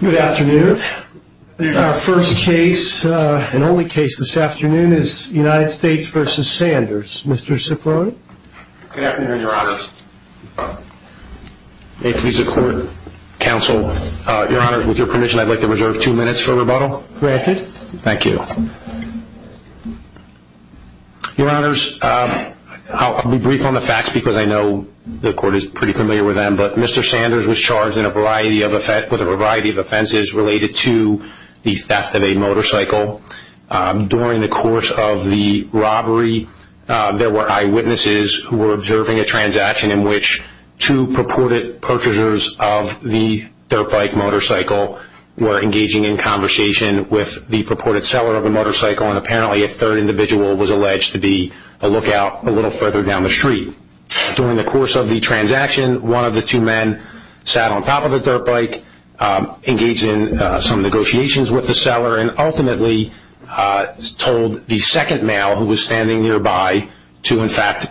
Good afternoon. Our first case and only case this afternoon is United States v. Sanders. Mr. Cipollone. Good afternoon, your honors. May it please the court, counsel, your honors, with your permission, I'd like to reserve two minutes for rebuttal. Granted. Thank you. Your honors, I'll be brief on the facts because I know the court is pretty familiar with them, but Mr. Sanders was charged with a variety of offenses related to the theft of a motorcycle. During the course of the robbery, there were eyewitnesses who were observing a transaction in which two purported purchasers of the dirt bike motorcycle were engaging in conversation with the purported seller of the motorcycle, and apparently a third individual was alleged to be a lookout a little further down the street. During the course of the transaction, one of the two men sat on top of the dirt bike, engaged in some negotiations with the seller, and ultimately told the second male who was standing nearby to, in fact,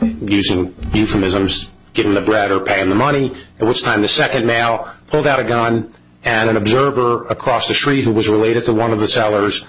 using euphemisms, give him the bread or pay him the money, at which time the second male pulled out a gun and an observer across the street who was related to one of the sellers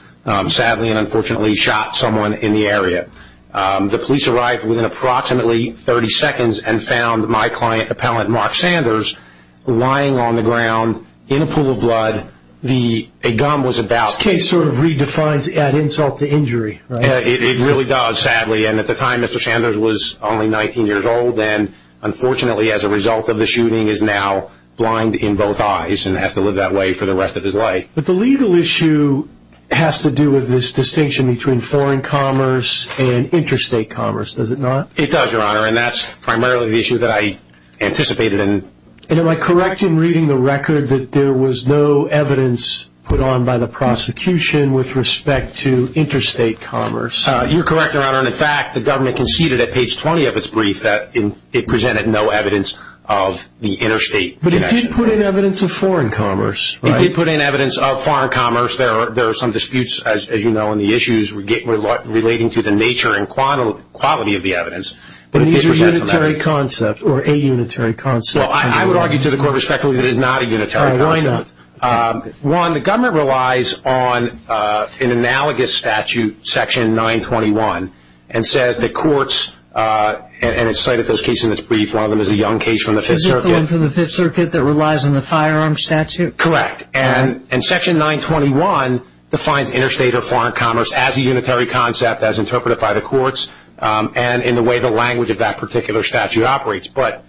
sadly and unfortunately shot someone in the area. The police arrived within approximately 30 seconds and found my client, appellant Mark Sanders, lying on the ground in a pool of blood. The gun was about... This case sort of redefines insult to injury, right? It really does, sadly, and at the time Mr. Sanders was only 19 years old and unfortunately as a result of the shooting is now blind in both eyes and has to live that way for the rest of his life. But the legal issue has to do with this distinction between foreign commerce and interstate commerce, does it not? It does, Your Honor, and that's primarily the issue that I anticipated. And am I correct in reading the record that there was no evidence put on by the prosecution with respect to interstate commerce? You're correct, Your Honor, and in fact the government conceded at page 20 of its brief that it presented no evidence of the interstate connection. But it did put in evidence of foreign commerce, right? It did put in evidence of foreign commerce. There are some disputes, as you know, on the issues relating to the nature and quality of the evidence. But it did present some evidence. But these are a unitary concept, or a unitary concept. Well, I would argue to the court respectfully that it is not a unitary concept. All right, why not? One, the government relies on an analogous statute, section 921, and says that courts... and it's cited those cases in its brief. One of them is a young case from the Fifth Circuit. Is this the one from the Fifth Circuit that relies on the firearm statute? Correct. And section 921 defines interstate or foreign commerce as a unitary concept, as interpreted by the courts, and in the way the language of that particular statute operates. How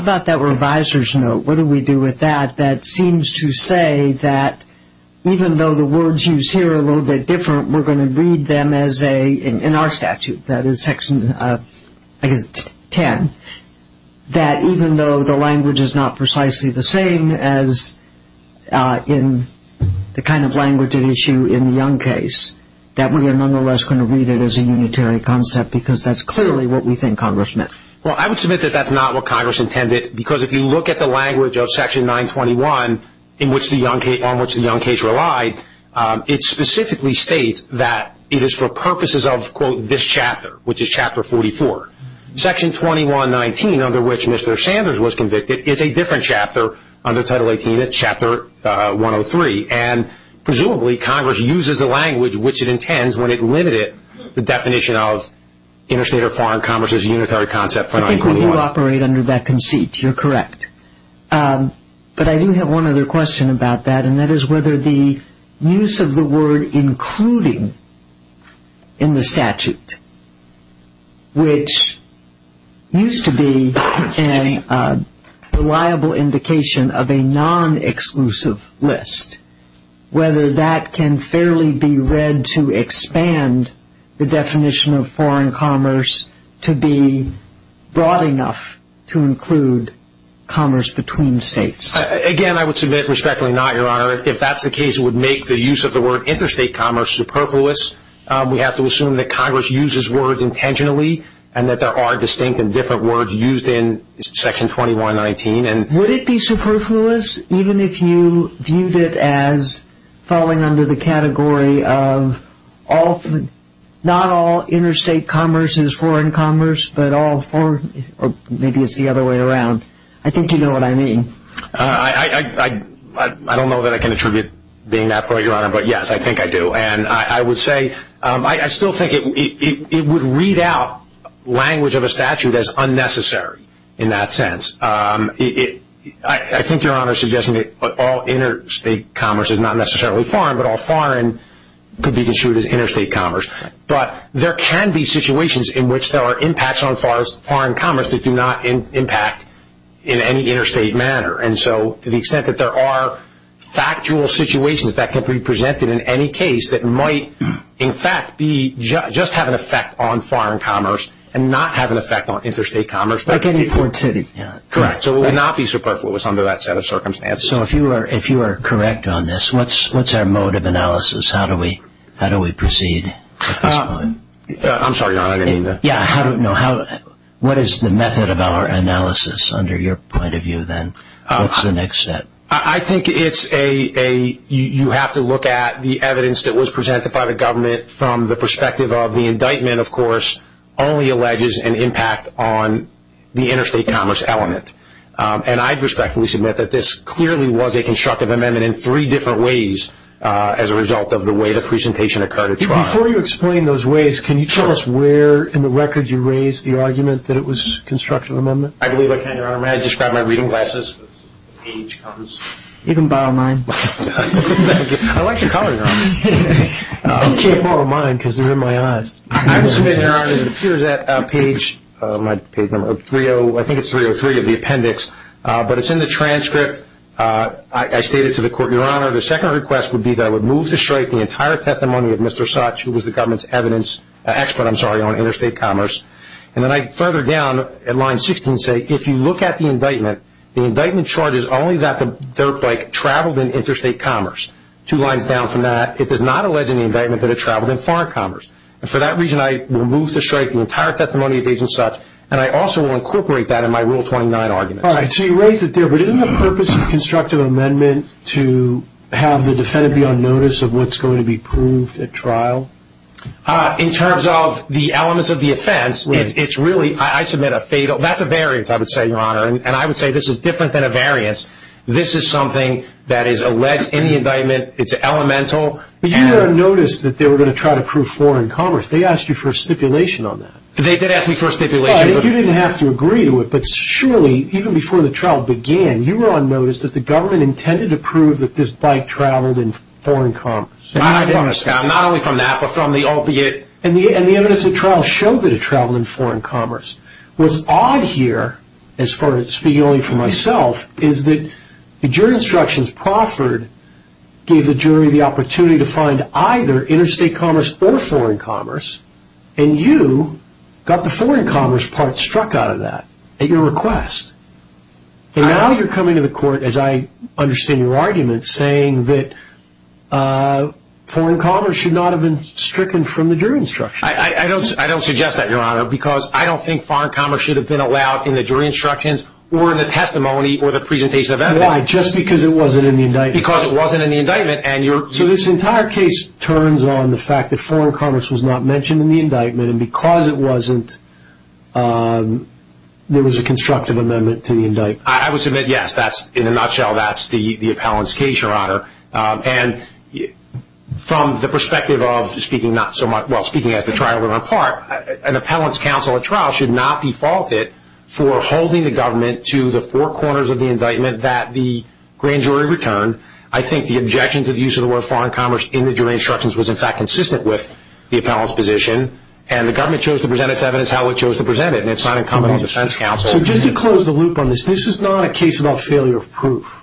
about that reviser's note? What do we do with that? That seems to say that even though the words used here are a little bit different, we're going to read them as in our statute, that is section 10, that even though the language is not precisely the same as in the kind of language at issue in the young case, that we are nonetheless going to read it as a unitary concept because that's clearly what we think Congress meant. Well, I would submit that that's not what Congress intended because if you look at the language of section 921 on which the young case relied, it specifically states that it is for purposes of, quote, this chapter, which is chapter 44. Section 2119, under which Mr. Sanders was convicted, is a different chapter. Under Title 18, it's chapter 103, and presumably Congress uses the language which it intends when it limited the definition of interstate or foreign commerce as a unitary concept for 921. I think we do operate under that conceit. You're correct. But I do have one other question about that, and that is whether the use of the word including in the statute, which used to be a reliable indication of a non-exclusive list, whether that can fairly be read to expand the definition of foreign commerce to be broad enough to include commerce between states. Again, I would submit respectfully not, Your Honor. If that's the case, it would make the use of the word interstate commerce superfluous. We have to assume that Congress uses words intentionally and that there are distinct and different words used in section 2119. Would it be superfluous even if you viewed it as falling under the category of not all interstate commerce is foreign commerce, but all foreign, or maybe it's the other way around. I think you know what I mean. I don't know that I can attribute being that part, Your Honor, but, yes, I think I do. And I would say I still think it would read out language of a statute as unnecessary in that sense. I think Your Honor is suggesting that all interstate commerce is not necessarily foreign, but all foreign could be construed as interstate commerce. But there can be situations in which there are impacts on foreign commerce that do not impact in any interstate manner. And so to the extent that there are factual situations that can be presented in any case that might, in fact, just have an effect on foreign commerce and not have an effect on interstate commerce. Like any port city. Correct. So it would not be superfluous under that set of circumstances. So if you are correct on this, what's our mode of analysis? How do we proceed at this point? I'm sorry, Your Honor, I didn't mean to. What is the method of our analysis under your point of view then? What's the next step? I think you have to look at the evidence that was presented by the government from the perspective of the indictment, of course, only alleges an impact on the interstate commerce element. And I'd respectfully submit that this clearly was a constructive amendment in three different ways as a result of the way the presentation occurred at trial. Before you explain those ways, can you tell us where in the record you raised the argument that it was a constructive amendment? I believe I can, Your Honor. May I describe my reading glasses? You can borrow mine. Thank you. I like the color, Your Honor. You can't borrow mine because they're in my eyes. I submit, Your Honor, it appears that page 303 of the appendix, but it's in the transcript. I state it to the court, Your Honor. Your Honor, the second request would be that I would move to strike the entire testimony of Mr. Sutch, who was the government's evidence expert, I'm sorry, on interstate commerce. And then I further down at line 16 say, if you look at the indictment, the indictment charges only that the dirt bike traveled in interstate commerce. Two lines down from that, it does not allege in the indictment that it traveled in foreign commerce. And for that reason, I will move to strike the entire testimony of Agent Sutch, and I also will incorporate that in my Rule 29 argument. All right, so you raised it there, but isn't the purpose of constructive amendment to have the defendant be on notice of what's going to be proved at trial? In terms of the elements of the offense, it's really, I submit, a fatal, that's a variance, I would say, Your Honor. And I would say this is different than a variance. This is something that is alleged in the indictment. It's elemental. But you were on notice that they were going to try to prove foreign commerce. They asked you for a stipulation on that. They did ask me for a stipulation. You didn't have to agree to it, but surely, even before the trial began, you were on notice that the government intended to prove that this bike traveled in foreign commerce. Not only from that, but from the albeit. And the evidence at trial showed that it traveled in foreign commerce. What's odd here, as far as speaking only for myself, is that the jury instructions proffered gave the jury the opportunity to find either interstate commerce or foreign commerce, and you got the foreign commerce part struck out of that at your request. And now you're coming to the court, as I understand your argument, saying that foreign commerce should not have been stricken from the jury instructions. I don't suggest that, Your Honor, because I don't think foreign commerce should have been allowed in the jury instructions or in the testimony or the presentation of evidence. Why? Just because it wasn't in the indictment? Because it wasn't in the indictment. So this entire case turns on the fact that foreign commerce was not mentioned in the indictment, and because it wasn't, there was a constructive amendment to the indictment. I would submit, yes, in a nutshell, that's the appellant's case, Your Honor. And from the perspective of speaking as the trial went on par, an appellant's counsel at trial should not be faulted for holding the government to the four corners of the indictment that the grand jury returned. I think the objection to the use of the word foreign commerce in the jury instructions was in fact consistent with the appellant's position, and the government chose to present its evidence how it chose to present it, and it's not incumbent on the defense counsel. So just to close the loop on this, this is not a case about failure of proof.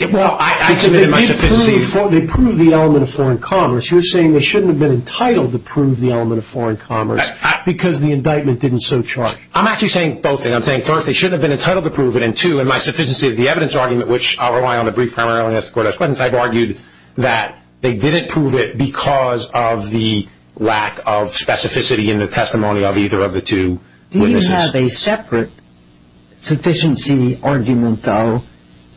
Well, I submitted my sufficiency. They proved the element of foreign commerce. You're saying they shouldn't have been entitled to prove the element of foreign commerce because the indictment didn't so charge. I'm actually saying both things. I'm saying, first, they shouldn't have been entitled to prove it, and, two, in my sufficiency of the evidence argument, which I'll rely on the brief primarily as the court has questions, I've argued that they didn't prove it because of the lack of specificity in the testimony of either of the two witnesses. Do you have a separate sufficiency argument, though,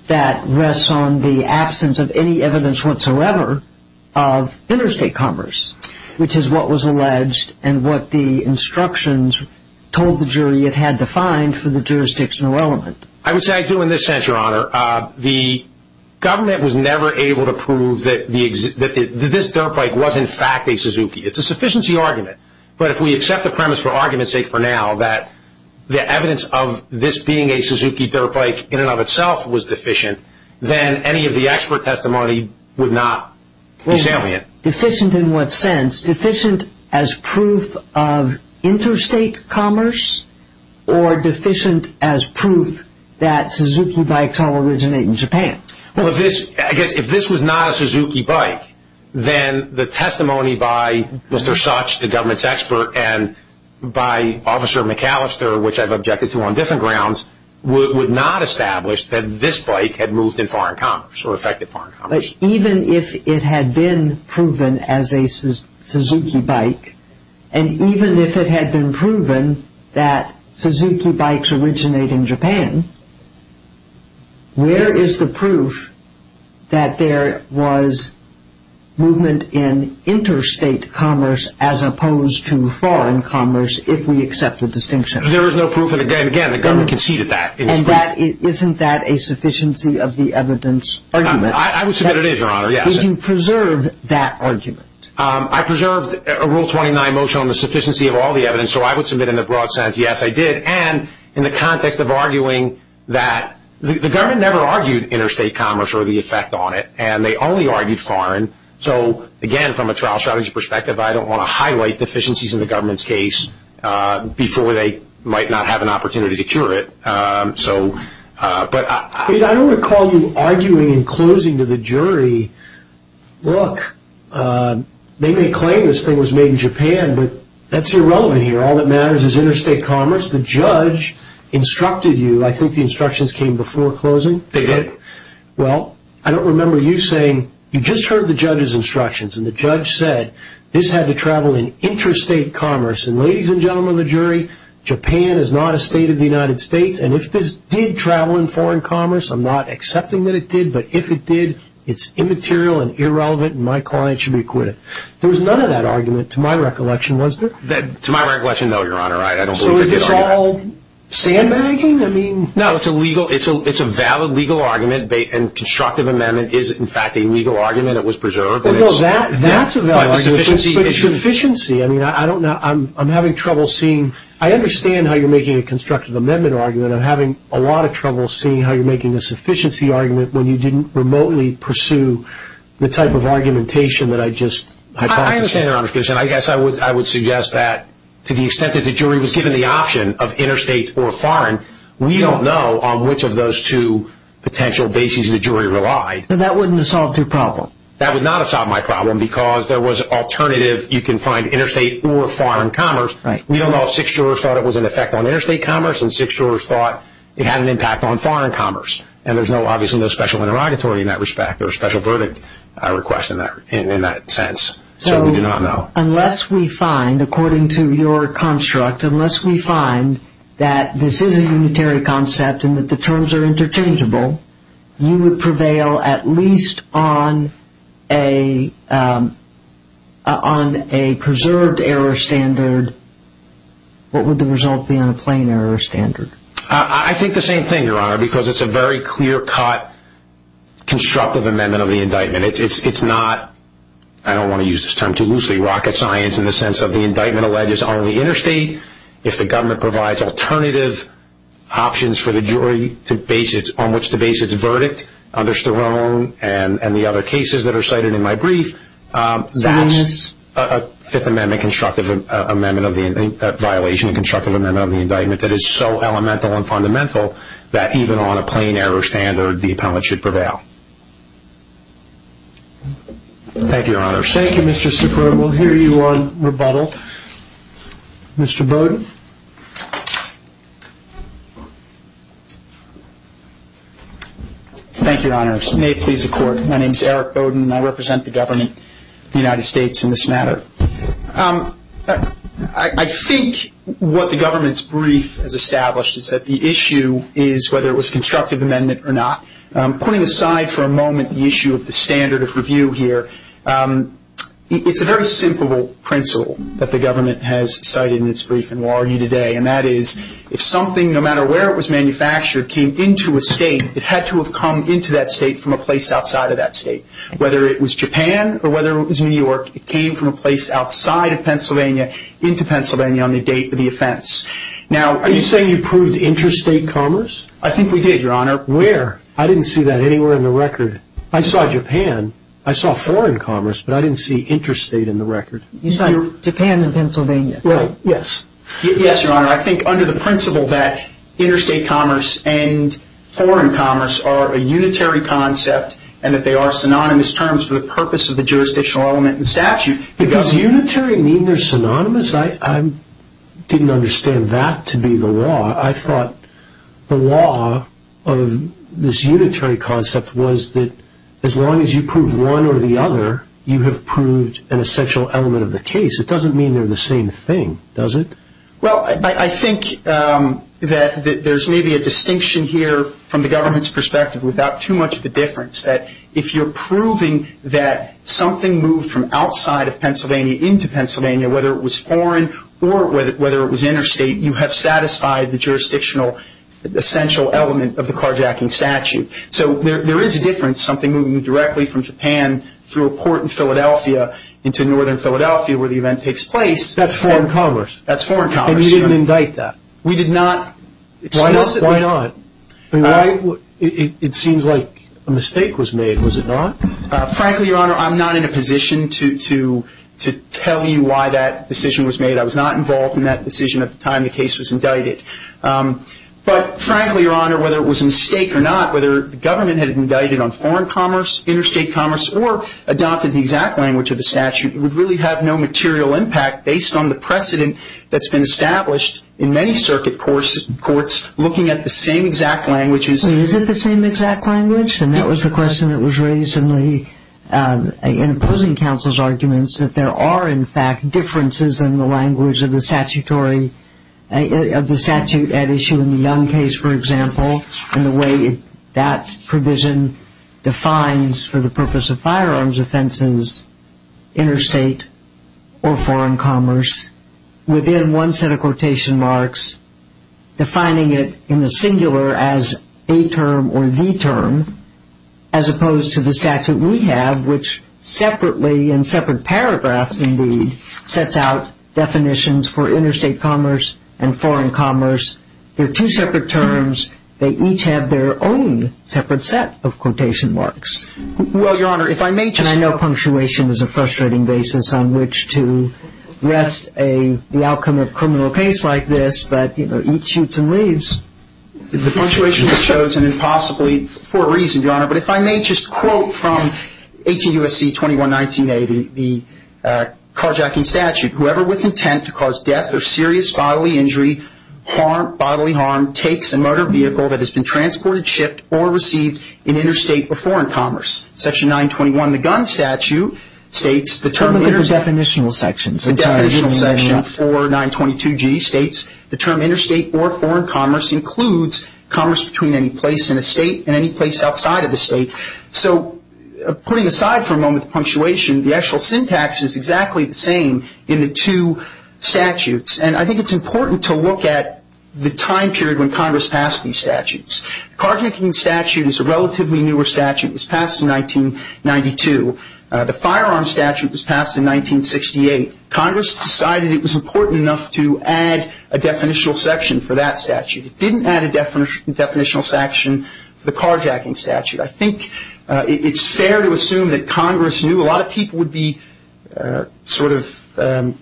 that rests on the absence of any evidence whatsoever of interstate commerce, which is what was alleged and what the instructions told the jury it had to find for the jurisdictional element? I would say I do in this sense, Your Honor. The government was never able to prove that this dirt bike was in fact a Suzuki. It's a sufficiency argument, but if we accept the premise for argument's sake for now that the evidence of this being a Suzuki dirt bike in and of itself was deficient, then any of the expert testimony would not be salient. Deficient in what sense? Deficient as proof of interstate commerce, or deficient as proof that Suzuki bikes all originate in Japan? Well, I guess if this was not a Suzuki bike, then the testimony by Mr. Such, the government's expert, and by Officer McAllister, which I've objected to on different grounds, would not establish that this bike had moved in foreign commerce or affected foreign commerce. But even if it had been proven as a Suzuki bike, and even if it had been proven that Suzuki bikes originate in Japan, where is the proof that there was movement in interstate commerce as opposed to foreign commerce if we accept the distinction? There is no proof, and again, the government conceded that. Isn't that a sufficiency of the evidence argument? I would submit it is, Your Honor, yes. Did you preserve that argument? I preserved a Rule 29 motion on the sufficiency of all the evidence, so I would submit in the broad sense, yes, I did. And in the context of arguing that the government never argued interstate commerce or the effect on it, and they only argued foreign. So, again, from a trial strategy perspective, I don't want to highlight deficiencies in the government's case before they might not have an opportunity to cure it. But I don't recall you arguing in closing to the jury, look, they may claim this thing was made in Japan, but that's irrelevant here. All that matters is interstate commerce. The judge instructed you. I think the instructions came before closing. They did. Well, I don't remember you saying, you just heard the judge's instructions, and the judge said this had to travel in interstate commerce. And ladies and gentlemen of the jury, Japan is not a state of the United States, and if this did travel in foreign commerce, I'm not accepting that it did, but if it did, it's immaterial and irrelevant, and my client should be acquitted. There was none of that argument to my recollection, was there? To my recollection, no, Your Honor. So is this all sandbagging? No, it's a valid legal argument, and constructive amendment is, in fact, a legal argument. It was preserved. That's a valid argument, but sufficiency. I mean, I don't know. I'm having trouble seeing. I understand how you're making a constructive amendment argument. I'm having a lot of trouble seeing how you're making a sufficiency argument when you didn't remotely pursue the type of argumentation that I just hypothesized. I understand, Your Honor. I guess I would suggest that to the extent that the jury was given the option of interstate or foreign, we don't know on which of those two potential bases the jury relied. That wouldn't have solved your problem. That would not have solved my problem because there was an alternative. You can find interstate or foreign commerce. Right. We don't know if six jurors thought it was an effect on interstate commerce and six jurors thought it had an impact on foreign commerce, and there's obviously no special interrogatory in that respect or special verdict request in that sense, so we do not know. So unless we find, according to your construct, unless we find that this is a unitary concept and that the terms are interchangeable, you would prevail at least on a preserved error standard. What would the result be on a plain error standard? I think the same thing, Your Honor, because it's a very clear-cut constructive amendment of the indictment. It's not, I don't want to use this term too loosely, rocket science in the sense of the indictment alleges only interstate. If the government provides alternative options for the jury on which to base its verdict, under Sterone and the other cases that are cited in my brief, that's a Fifth Amendment constructive amendment of the violation, a constructive amendment of the indictment that is so elemental and fundamental that even on a plain error standard, the appellant should prevail. Thank you, Your Honor. Thank you, Mr. Sikora. We'll hear you on rebuttal. Mr. Bowden. Thank you, Your Honors. May it please the Court, my name is Eric Bowden, and I represent the government of the United States in this matter. I think what the government's brief has established is that the issue is, whether it was a constructive amendment or not, putting aside for a moment the issue of the standard of review here, it's a very simple principle that the government has cited in its brief and will argue today, and that is if something, no matter where it was manufactured, came into a state, it had to have come into that state from a place outside of that state. Whether it was Japan or whether it was New York, it came from a place outside of Pennsylvania into Pennsylvania on the date of the offense. Are you saying you proved interstate commerce? I think we did, Your Honor. Where? I didn't see that anywhere in the record. I saw Japan. I saw foreign commerce, but I didn't see interstate in the record. You saw Japan and Pennsylvania. Right. Yes. Yes, Your Honor. I think under the principle that interstate commerce and foreign commerce are a unitary concept and that they are synonymous terms for the purpose of the jurisdictional element in statute, the government Does unitary mean they're synonymous? I didn't understand that to be the law. I thought the law of this unitary concept was that as long as you prove one or the other, you have proved an essential element of the case. It doesn't mean they're the same thing, does it? Well, I think that there's maybe a distinction here from the government's perspective without too much of a difference that if you're proving that something moved from outside of Pennsylvania into Pennsylvania, whether it was foreign or whether it was interstate, you have satisfied the jurisdictional essential element of the carjacking statute. So there is a difference, something moving directly from Japan through a port in Philadelphia into northern Philadelphia where the event takes place. That's foreign commerce. That's foreign commerce. And you didn't indict that? We did not explicitly. Why not? It seems like a mistake was made, was it not? Frankly, Your Honor, I'm not in a position to tell you why that decision was made. I was not involved in that decision at the time the case was indicted. But frankly, Your Honor, whether it was a mistake or not, whether the government had indicted on foreign commerce, interstate commerce, or adopted the exact language of the statute, it would really have no material impact based on the precedent that's been established in many circuit courts looking at the same exact languages. Is it the same exact language? And that was the question that was raised in the opposing counsel's arguments, that there are, in fact, differences in the language of the statutory, of the statute at issue in the Young case, for example, and the way that provision defines for the purpose of firearms offenses, interstate or foreign commerce within one set of quotation marks, defining it in the singular as a term or the term as opposed to the statute we have, which separately in separate paragraphs, indeed, sets out definitions for interstate commerce and foreign commerce. They're two separate terms. They each have their own separate set of quotation marks. Well, Your Honor, if I may just – And I know punctuation is a frustrating basis on which to rest the outcome of a criminal case like this, but, you know, each shoots and leaves. The punctuation was chosen impossibly for a reason, Your Honor. But if I may just quote from 18 U.S.C. 2119A, the carjacking statute, whoever with intent to cause death or serious bodily injury, harm, bodily harm, takes a murder vehicle that has been transported, shipped, or received in interstate or foreign commerce. Section 921 in the gun statute states the term interstate. What about the definitional sections? The definitional section for 922G states the term interstate or foreign commerce includes commerce between any place in a state and any place outside of the state. So putting aside for a moment the punctuation, the actual syntax is exactly the same in the two statutes. And I think it's important to look at the time period when Congress passed these statutes. The carjacking statute is a relatively newer statute. It was passed in 1992. The firearm statute was passed in 1968. Congress decided it was important enough to add a definitional section for that statute. It didn't add a definitional section for the carjacking statute. I think it's fair to assume that Congress knew a lot of people would be sort of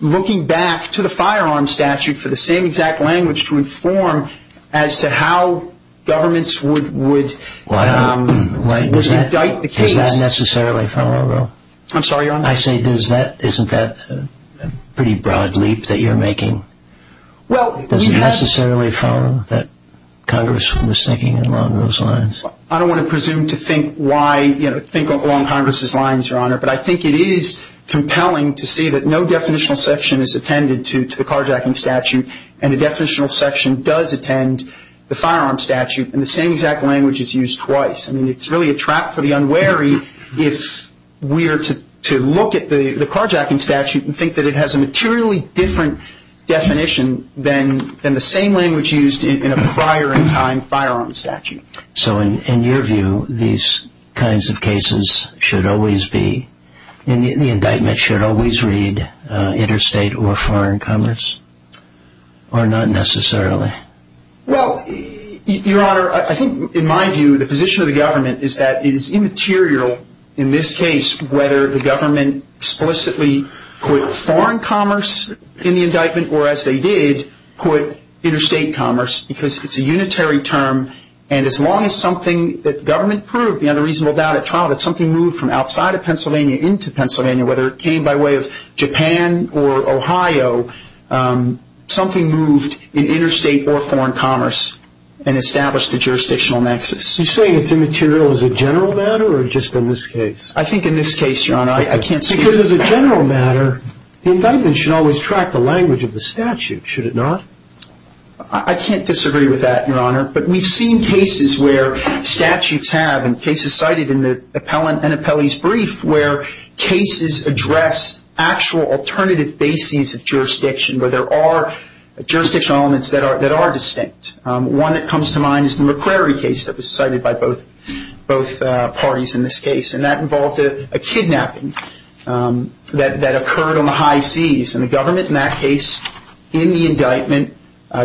looking back to the firearm statute for the same exact language to inform as to how governments would indict the case. Does that necessarily follow, though? I'm sorry, Your Honor? I say isn't that a pretty broad leap that you're making? Does it necessarily follow that Congress was thinking along those lines? I don't want to presume to think along Congress's lines, Your Honor, but I think it is compelling to see that no definitional section is attended to the carjacking statute, and a definitional section does attend the firearm statute, and the same exact language is used twice. I mean, it's really a trap for the unwary if we are to look at the carjacking statute and think that it has a materially different definition than the same language used in a prior-in-time firearm statute. So in your view, these kinds of cases should always be, the indictment should always read interstate or foreign commerce, or not necessarily? Well, Your Honor, I think in my view the position of the government is that it is immaterial in this case whether the government explicitly put foreign commerce in the indictment or as they did put interstate commerce because it's a unitary term, and as long as something that government proved beyond a reasonable doubt at trial that something moved from outside of Pennsylvania into Pennsylvania, whether it came by way of Japan or Ohio, something moved in interstate or foreign commerce and established a jurisdictional nexus. You're saying it's immaterial as a general matter or just in this case? I think in this case, Your Honor, I can't speak to it. Because as a general matter, the indictment should always track the language of the statute, should it not? I can't disagree with that, Your Honor, but we've seen cases where statutes have, and cases cited in the appellant and appellee's brief where cases address actual alternative bases of jurisdiction where there are jurisdictional elements that are distinct. One that comes to mind is the McCrary case that was cited by both parties in this case, and that involved a kidnapping that occurred on the high seas, and the government in that case in the indictment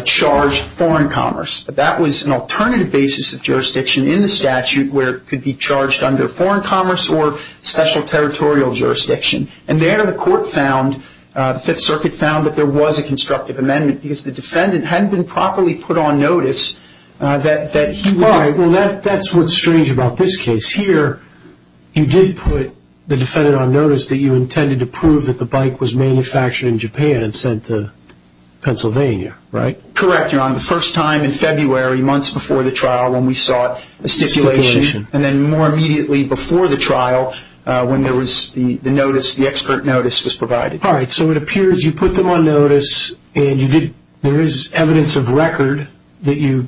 charged foreign commerce. But that was an alternative basis of jurisdiction in the statute where it could be charged under foreign commerce or special territorial jurisdiction. And there the court found, the Fifth Circuit found, that there was a constructive amendment because the defendant hadn't been properly put on notice. Why? Well, that's what's strange about this case. Here, you did put the defendant on notice that you intended to prove that the bike was manufactured in Japan and sent to Pennsylvania, right? Correct, Your Honor. The first time in February, months before the trial, when we sought a stipulation, and then more immediately before the trial when the expert notice was provided. All right, so it appears you put them on notice, and there is evidence of record that you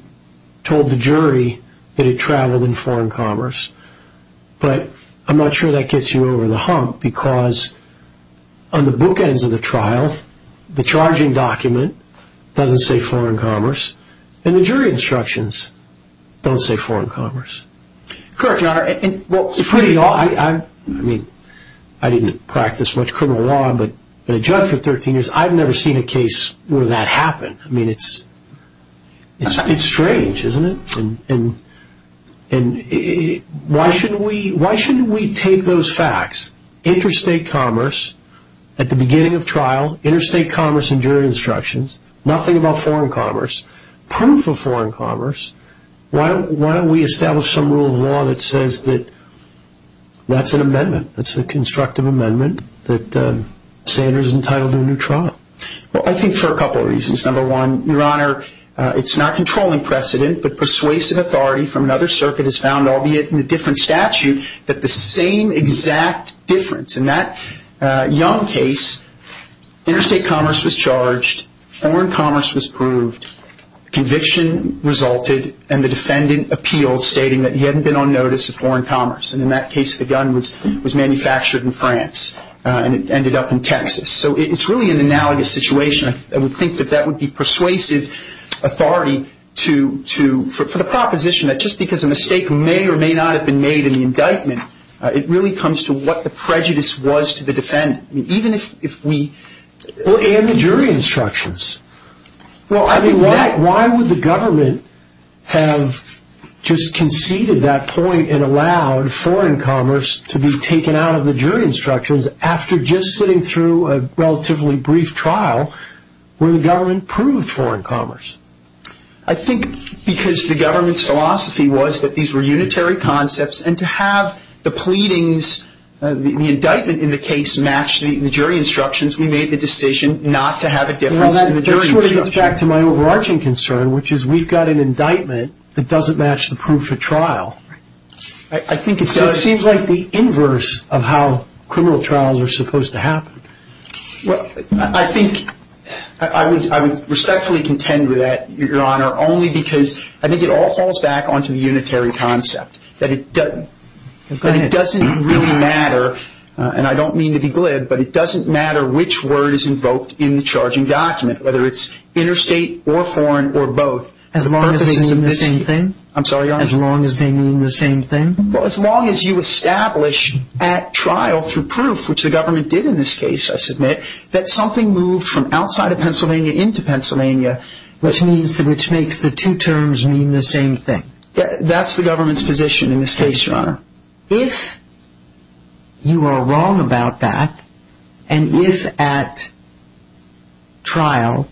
told the jury that it traveled in foreign commerce. But I'm not sure that gets you over the hump, because on the bookends of the trial, the charging document doesn't say foreign commerce, and the jury instructions don't say foreign commerce. Correct, Your Honor. I mean, I didn't practice much criminal law, but I've been a judge for 13 years. I've never seen a case where that happened. I mean, it's strange, isn't it? And why shouldn't we take those facts? Interstate commerce at the beginning of trial, interstate commerce and jury instructions, nothing about foreign commerce, proof of foreign commerce. Why don't we establish some rule of law that says that that's an amendment, that's a constructive amendment, that Sanders is entitled to a new trial? Well, I think for a couple of reasons. Number one, Your Honor, it's not controlling precedent, but persuasive authority from another circuit is found, albeit in a different statute, that the same exact difference in that Young case, interstate commerce was charged, foreign commerce was proved, conviction resulted, and the defendant appealed stating that he hadn't been on notice of foreign commerce, and in that case the gun was manufactured in France and it ended up in Texas. So it's really an analogous situation. I would think that that would be persuasive authority for the proposition that just because a mistake may or may not have been made in the indictment, it really comes to what the prejudice was to the defendant. And the jury instructions. Well, I mean, why would the government have just conceded that point and allowed foreign commerce to be taken out of the jury instructions after just sitting through a relatively brief trial where the government proved foreign commerce? I think because the government's philosophy was that these were unitary concepts and to have the pleadings, the indictment in the case match the jury instructions, we made the decision not to have a difference in the jury instructions. Well, that sort of gets back to my overarching concern, which is we've got an indictment that doesn't match the proof at trial. Right. So it seems like the inverse of how criminal trials are supposed to happen. Well, I think I would respectfully contend with that, Your Honor, only because I think it all falls back onto the unitary concept that it doesn't really matter, and I don't mean to be glib, but it doesn't matter which word is invoked in the charging document, whether it's interstate or foreign or both. As long as they mean the same thing? I'm sorry, Your Honor? As long as they mean the same thing? Well, as long as you establish at trial through proof, which the government did in this case, I submit, that something moved from outside of Pennsylvania into Pennsylvania. Which makes the two terms mean the same thing. That's the government's position in this case, Your Honor. If you are wrong about that, and if at trial,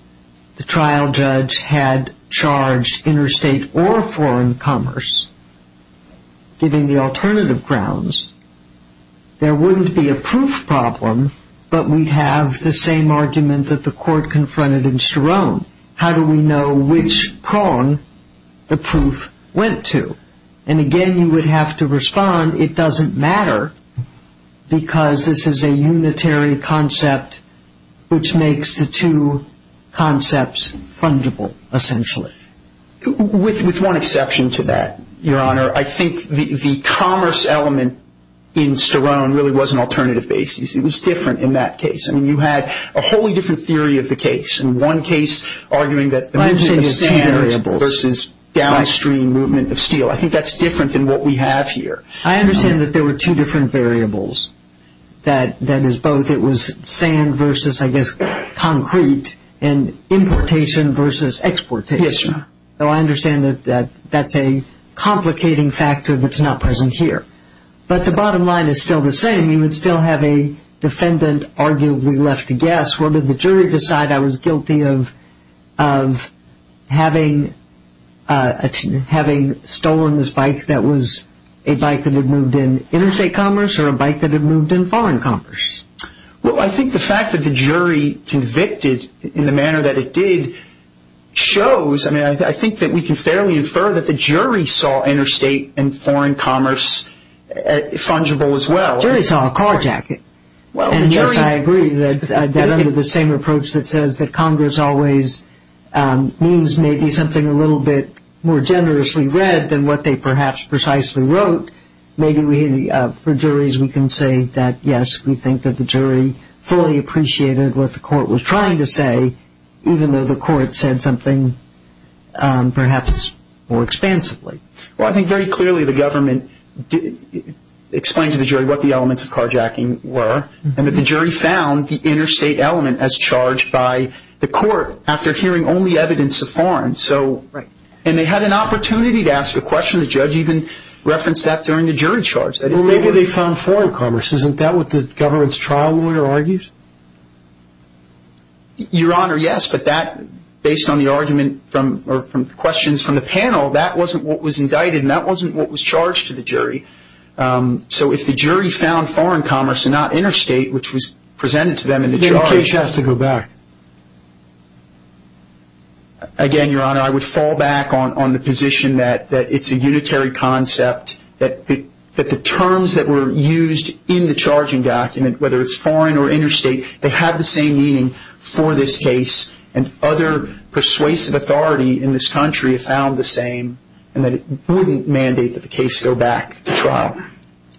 the trial judge had charged interstate or foreign commerce, giving the alternative grounds, there wouldn't be a proof problem, but we'd have the same argument that the court confronted in Sterone. How do we know which prong the proof went to? And again, you would have to respond, it doesn't matter, because this is a unitary concept which makes the two concepts fungible, essentially. With one exception to that, Your Honor, I think the commerce element in Sterone really was an alternative basis. It was different in that case. I mean, you had a wholly different theory of the case. In one case, arguing that the movement of sand versus downstream movement of steel. I think that's different than what we have here. I understand that there were two different variables. That is, both it was sand versus, I guess, concrete, and importation versus exportation. Yes, Your Honor. So I understand that that's a complicating factor that's not present here. But the bottom line is still the same. You would still have a defendant arguably left to guess. Well, did the jury decide I was guilty of having stolen this bike that was a bike that had moved in interstate commerce or a bike that had moved in foreign commerce? Well, I think the fact that the jury convicted in the manner that it did shows, I mean, I think that we can fairly infer that the jury saw interstate and foreign commerce fungible as well. The jury saw a car jacket. And, yes, I agree that under the same approach that says that Congress always means maybe something a little bit more generously read than what they perhaps precisely wrote, maybe for juries we can say that, yes, we think that the jury fully appreciated what the court was trying to say, even though the court said something perhaps more expansively. Well, I think very clearly the government explained to the jury what the elements of carjacking were and that the jury found the interstate element as charged by the court after hearing only evidence of foreign. And they had an opportunity to ask a question. The judge even referenced that during the jury charge. Well, maybe they found foreign commerce. Isn't that what the government's trial lawyer argued? Your Honor, yes. But that, based on the argument or questions from the panel, that wasn't what was indicted and that wasn't what was charged to the jury. So if the jury found foreign commerce and not interstate, which was presented to them in the charge. Then the case has to go back. Again, Your Honor, I would fall back on the position that it's a unitary concept, that the terms that were used in the charging document, whether it's foreign or interstate, they have the same meaning for this case and other persuasive authority in this country have found the same and that it wouldn't mandate that the case go back to trial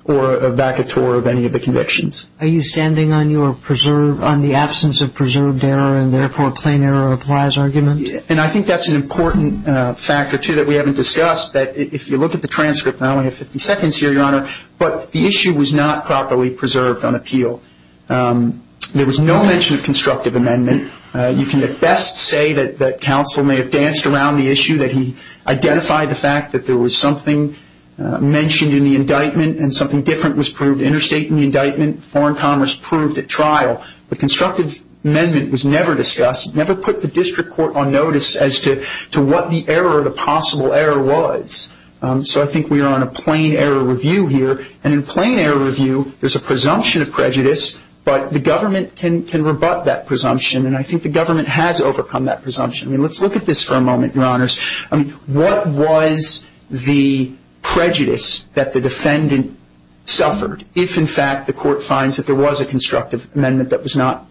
or back a tour of any of the convictions. Are you standing on the absence of preserved error and therefore plain error applies argument? And I think that's an important factor, too, that we haven't discussed, that if you look at the transcript, not only have 50 seconds here, Your Honor, but the issue was not properly preserved on appeal. There was no mention of constructive amendment. You can at best say that counsel may have danced around the issue, that he identified the fact that there was something mentioned in the indictment and something different was proved interstate in the indictment, foreign commerce proved at trial. But constructive amendment was never discussed. It never put the district court on notice as to what the error or the possible error was. So I think we are on a plain error review here. And in plain error review, there's a presumption of prejudice, but the government can rebut that presumption, and I think the government has overcome that presumption. I mean, let's look at this for a moment, Your Honors. I mean, what was the prejudice that the defendant suffered if, in fact, the court finds that there was a constructive amendment that was not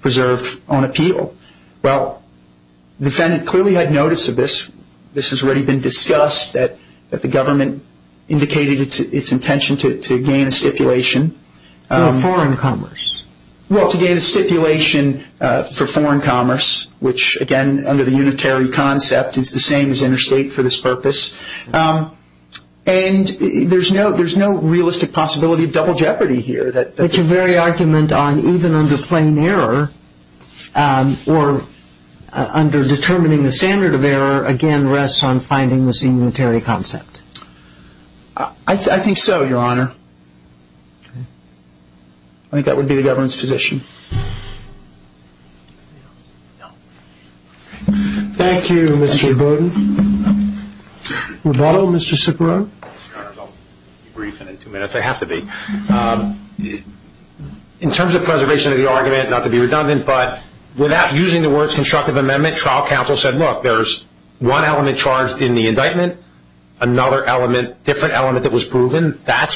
preserved on appeal? Well, the defendant clearly had notice of this. This has already been discussed, that the government indicated its intention to gain a stipulation. Well, foreign commerce. Well, to gain a stipulation for foreign commerce, which again under the unitary concept is the same as interstate for this purpose. And there's no realistic possibility of double jeopardy here. But your very argument on even under plain error or under determining the standard of error, again, rests on finding this unitary concept. I think so, Your Honor. I think that would be the government's position. Thank you, Mr. Bowden. Roboto, Mr. Ciparone? Your Honors, I'll be briefing in two minutes. I have to be. In terms of preservation of the argument, not to be redundant, but without using the words constructive amendment, trial counsel said, look, there's one element charged in the indictment, another element, different element that was proven. That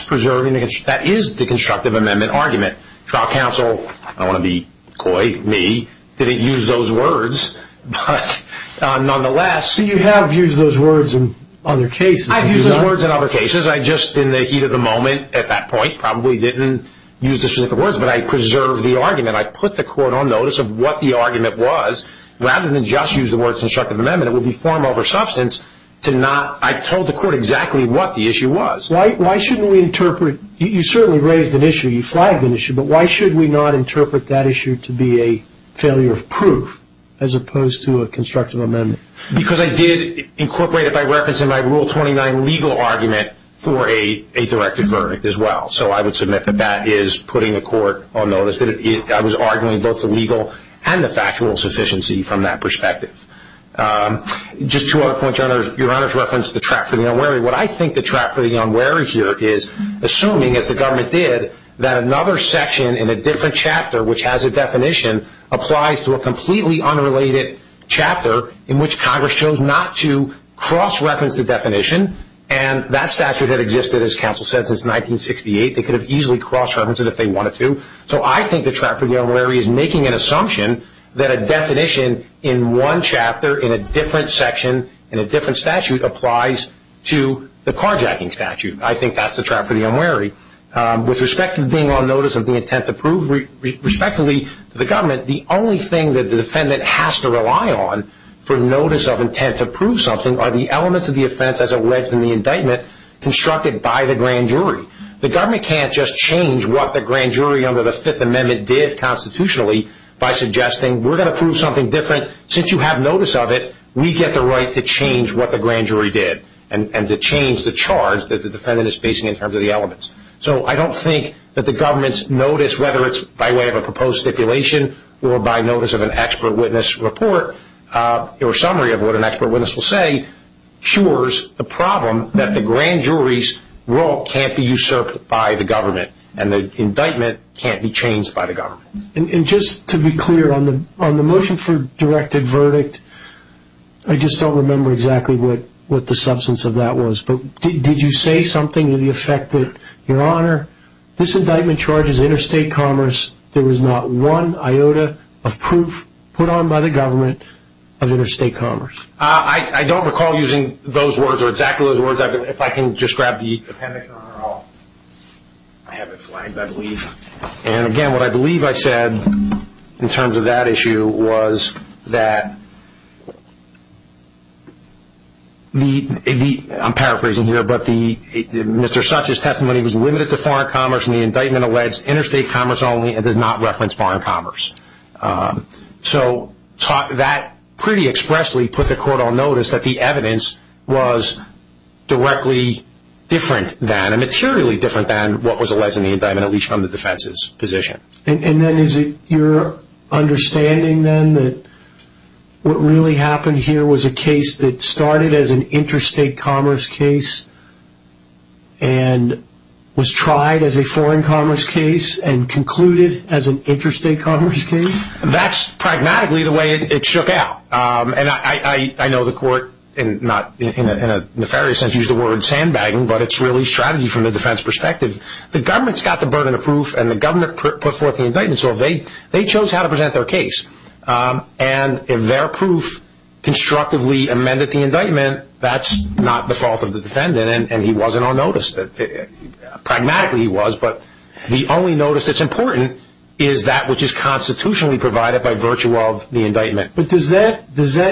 is the constructive amendment argument. Trial counsel, I don't want to be coy, me, didn't use those words. But nonetheless. You have used those words in other cases. I've used those words in other cases. I just, in the heat of the moment at that point, probably didn't use those specific words. But I preserved the argument. I put the court on notice of what the argument was. Rather than just use the words constructive amendment, it would be far more of a substance to not. I told the court exactly what the issue was. You certainly raised an issue. You flagged an issue. But why should we not interpret that issue to be a failure of proof as opposed to a constructive amendment? Because I did incorporate it by reference in my Rule 29 legal argument for a directed verdict as well. So I would submit that that is putting the court on notice. I was arguing both the legal and the factual sufficiency from that perspective. Just two other points. Your Honor's reference to the trap for the unwary. What I think the trap for the unwary here is assuming, as the government did, that another section in a different chapter, which has a definition, applies to a completely unrelated chapter in which Congress chose not to cross-reference the definition. And that statute had existed, as counsel said, since 1968. They could have easily cross-referenced it if they wanted to. So I think the trap for the unwary is making an assumption that a definition in one chapter in a different section, in a different statute, applies to the carjacking statute. I think that's the trap for the unwary. With respect to being on notice of the intent to prove respectively to the government, the only thing that the defendant has to rely on for notice of intent to prove something are the elements of the offense as alleged in the indictment constructed by the grand jury. The government can't just change what the grand jury under the Fifth Amendment did constitutionally by suggesting we're going to prove something different. Since you have notice of it, we get the right to change what the grand jury did and to change the charge that the defendant is facing in terms of the elements. So I don't think that the government's notice, whether it's by way of a proposed stipulation or by notice of an expert witness report or summary of what an expert witness will say, cures the problem that the grand jury's role can't be usurped by the government and the indictment can't be changed by the government. And just to be clear, on the motion for directed verdict, I just don't remember exactly what the substance of that was, but did you say something to the effect that, Your Honor, this indictment charges interstate commerce. There was not one iota of proof put on by the government of interstate commerce. I don't recall using those words or exactly those words. If I can just grab the appendix, Your Honor, I have it flagged, I believe. And, again, what I believe I said in terms of that issue was that the, I'm paraphrasing here, but Mr. Such's testimony was limited to foreign commerce and the indictment alleged interstate commerce only and does not reference foreign commerce. So that pretty expressly put the court on notice that the evidence was directly different than, materially different than what was alleged in the indictment, at least from the defense's position. And then is it your understanding, then, that what really happened here was a case that started as an interstate commerce case and was tried as a foreign commerce case and concluded as an interstate commerce case? That's pragmatically the way it shook out. And I know the court, in a nefarious sense, used the word sandbagging, but it's really strategy from the defense perspective. The government's got the burden of proof and the government put forth the indictment, so they chose how to present their case. And if their proof constructively amended the indictment, that's not the fault of the defendant and he wasn't on notice, pragmatically he was. But the only notice that's important is that which is constitutionally provided by virtue of the indictment. But does that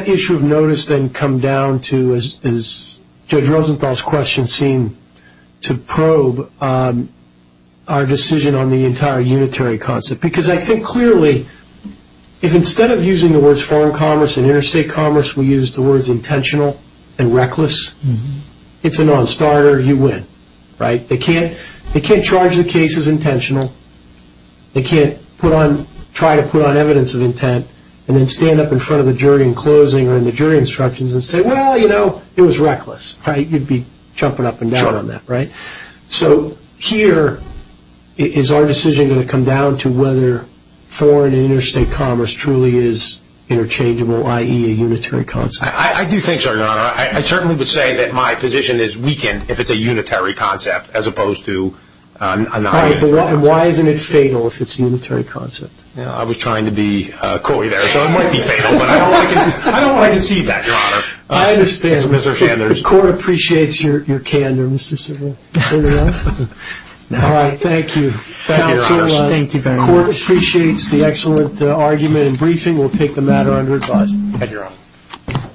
issue of notice then come down to, as Judge Rosenthal's question seemed to probe, our decision on the entire unitary concept? Because I think, clearly, if instead of using the words foreign commerce and interstate commerce, we use the words intentional and reckless, it's a non-starter, you win. They can't charge the case as intentional. They can't try to put on evidence of intent and then stand up in front of the jury in closing or in the jury instructions and say, well, you know, it was reckless. You'd be jumping up and down on that, right? So here, is our decision going to come down to whether foreign and interstate commerce truly is interchangeable, i.e., a unitary concept? I do think so, Your Honor. I certainly would say that my position is weakened if it's a unitary concept as opposed to a non-unitary concept. All right, but why isn't it fatal if it's a unitary concept? I was trying to be coy there, so it might be fatal, but I don't like to see that, Your Honor. I understand. Mr. Sanders. The court appreciates your candor, Mr. Cerullo. Anyone else? All right, thank you. Thank you, Your Honor. Thank you very much. The court appreciates the excellent argument and briefing. We'll take the matter under advisement. At your own.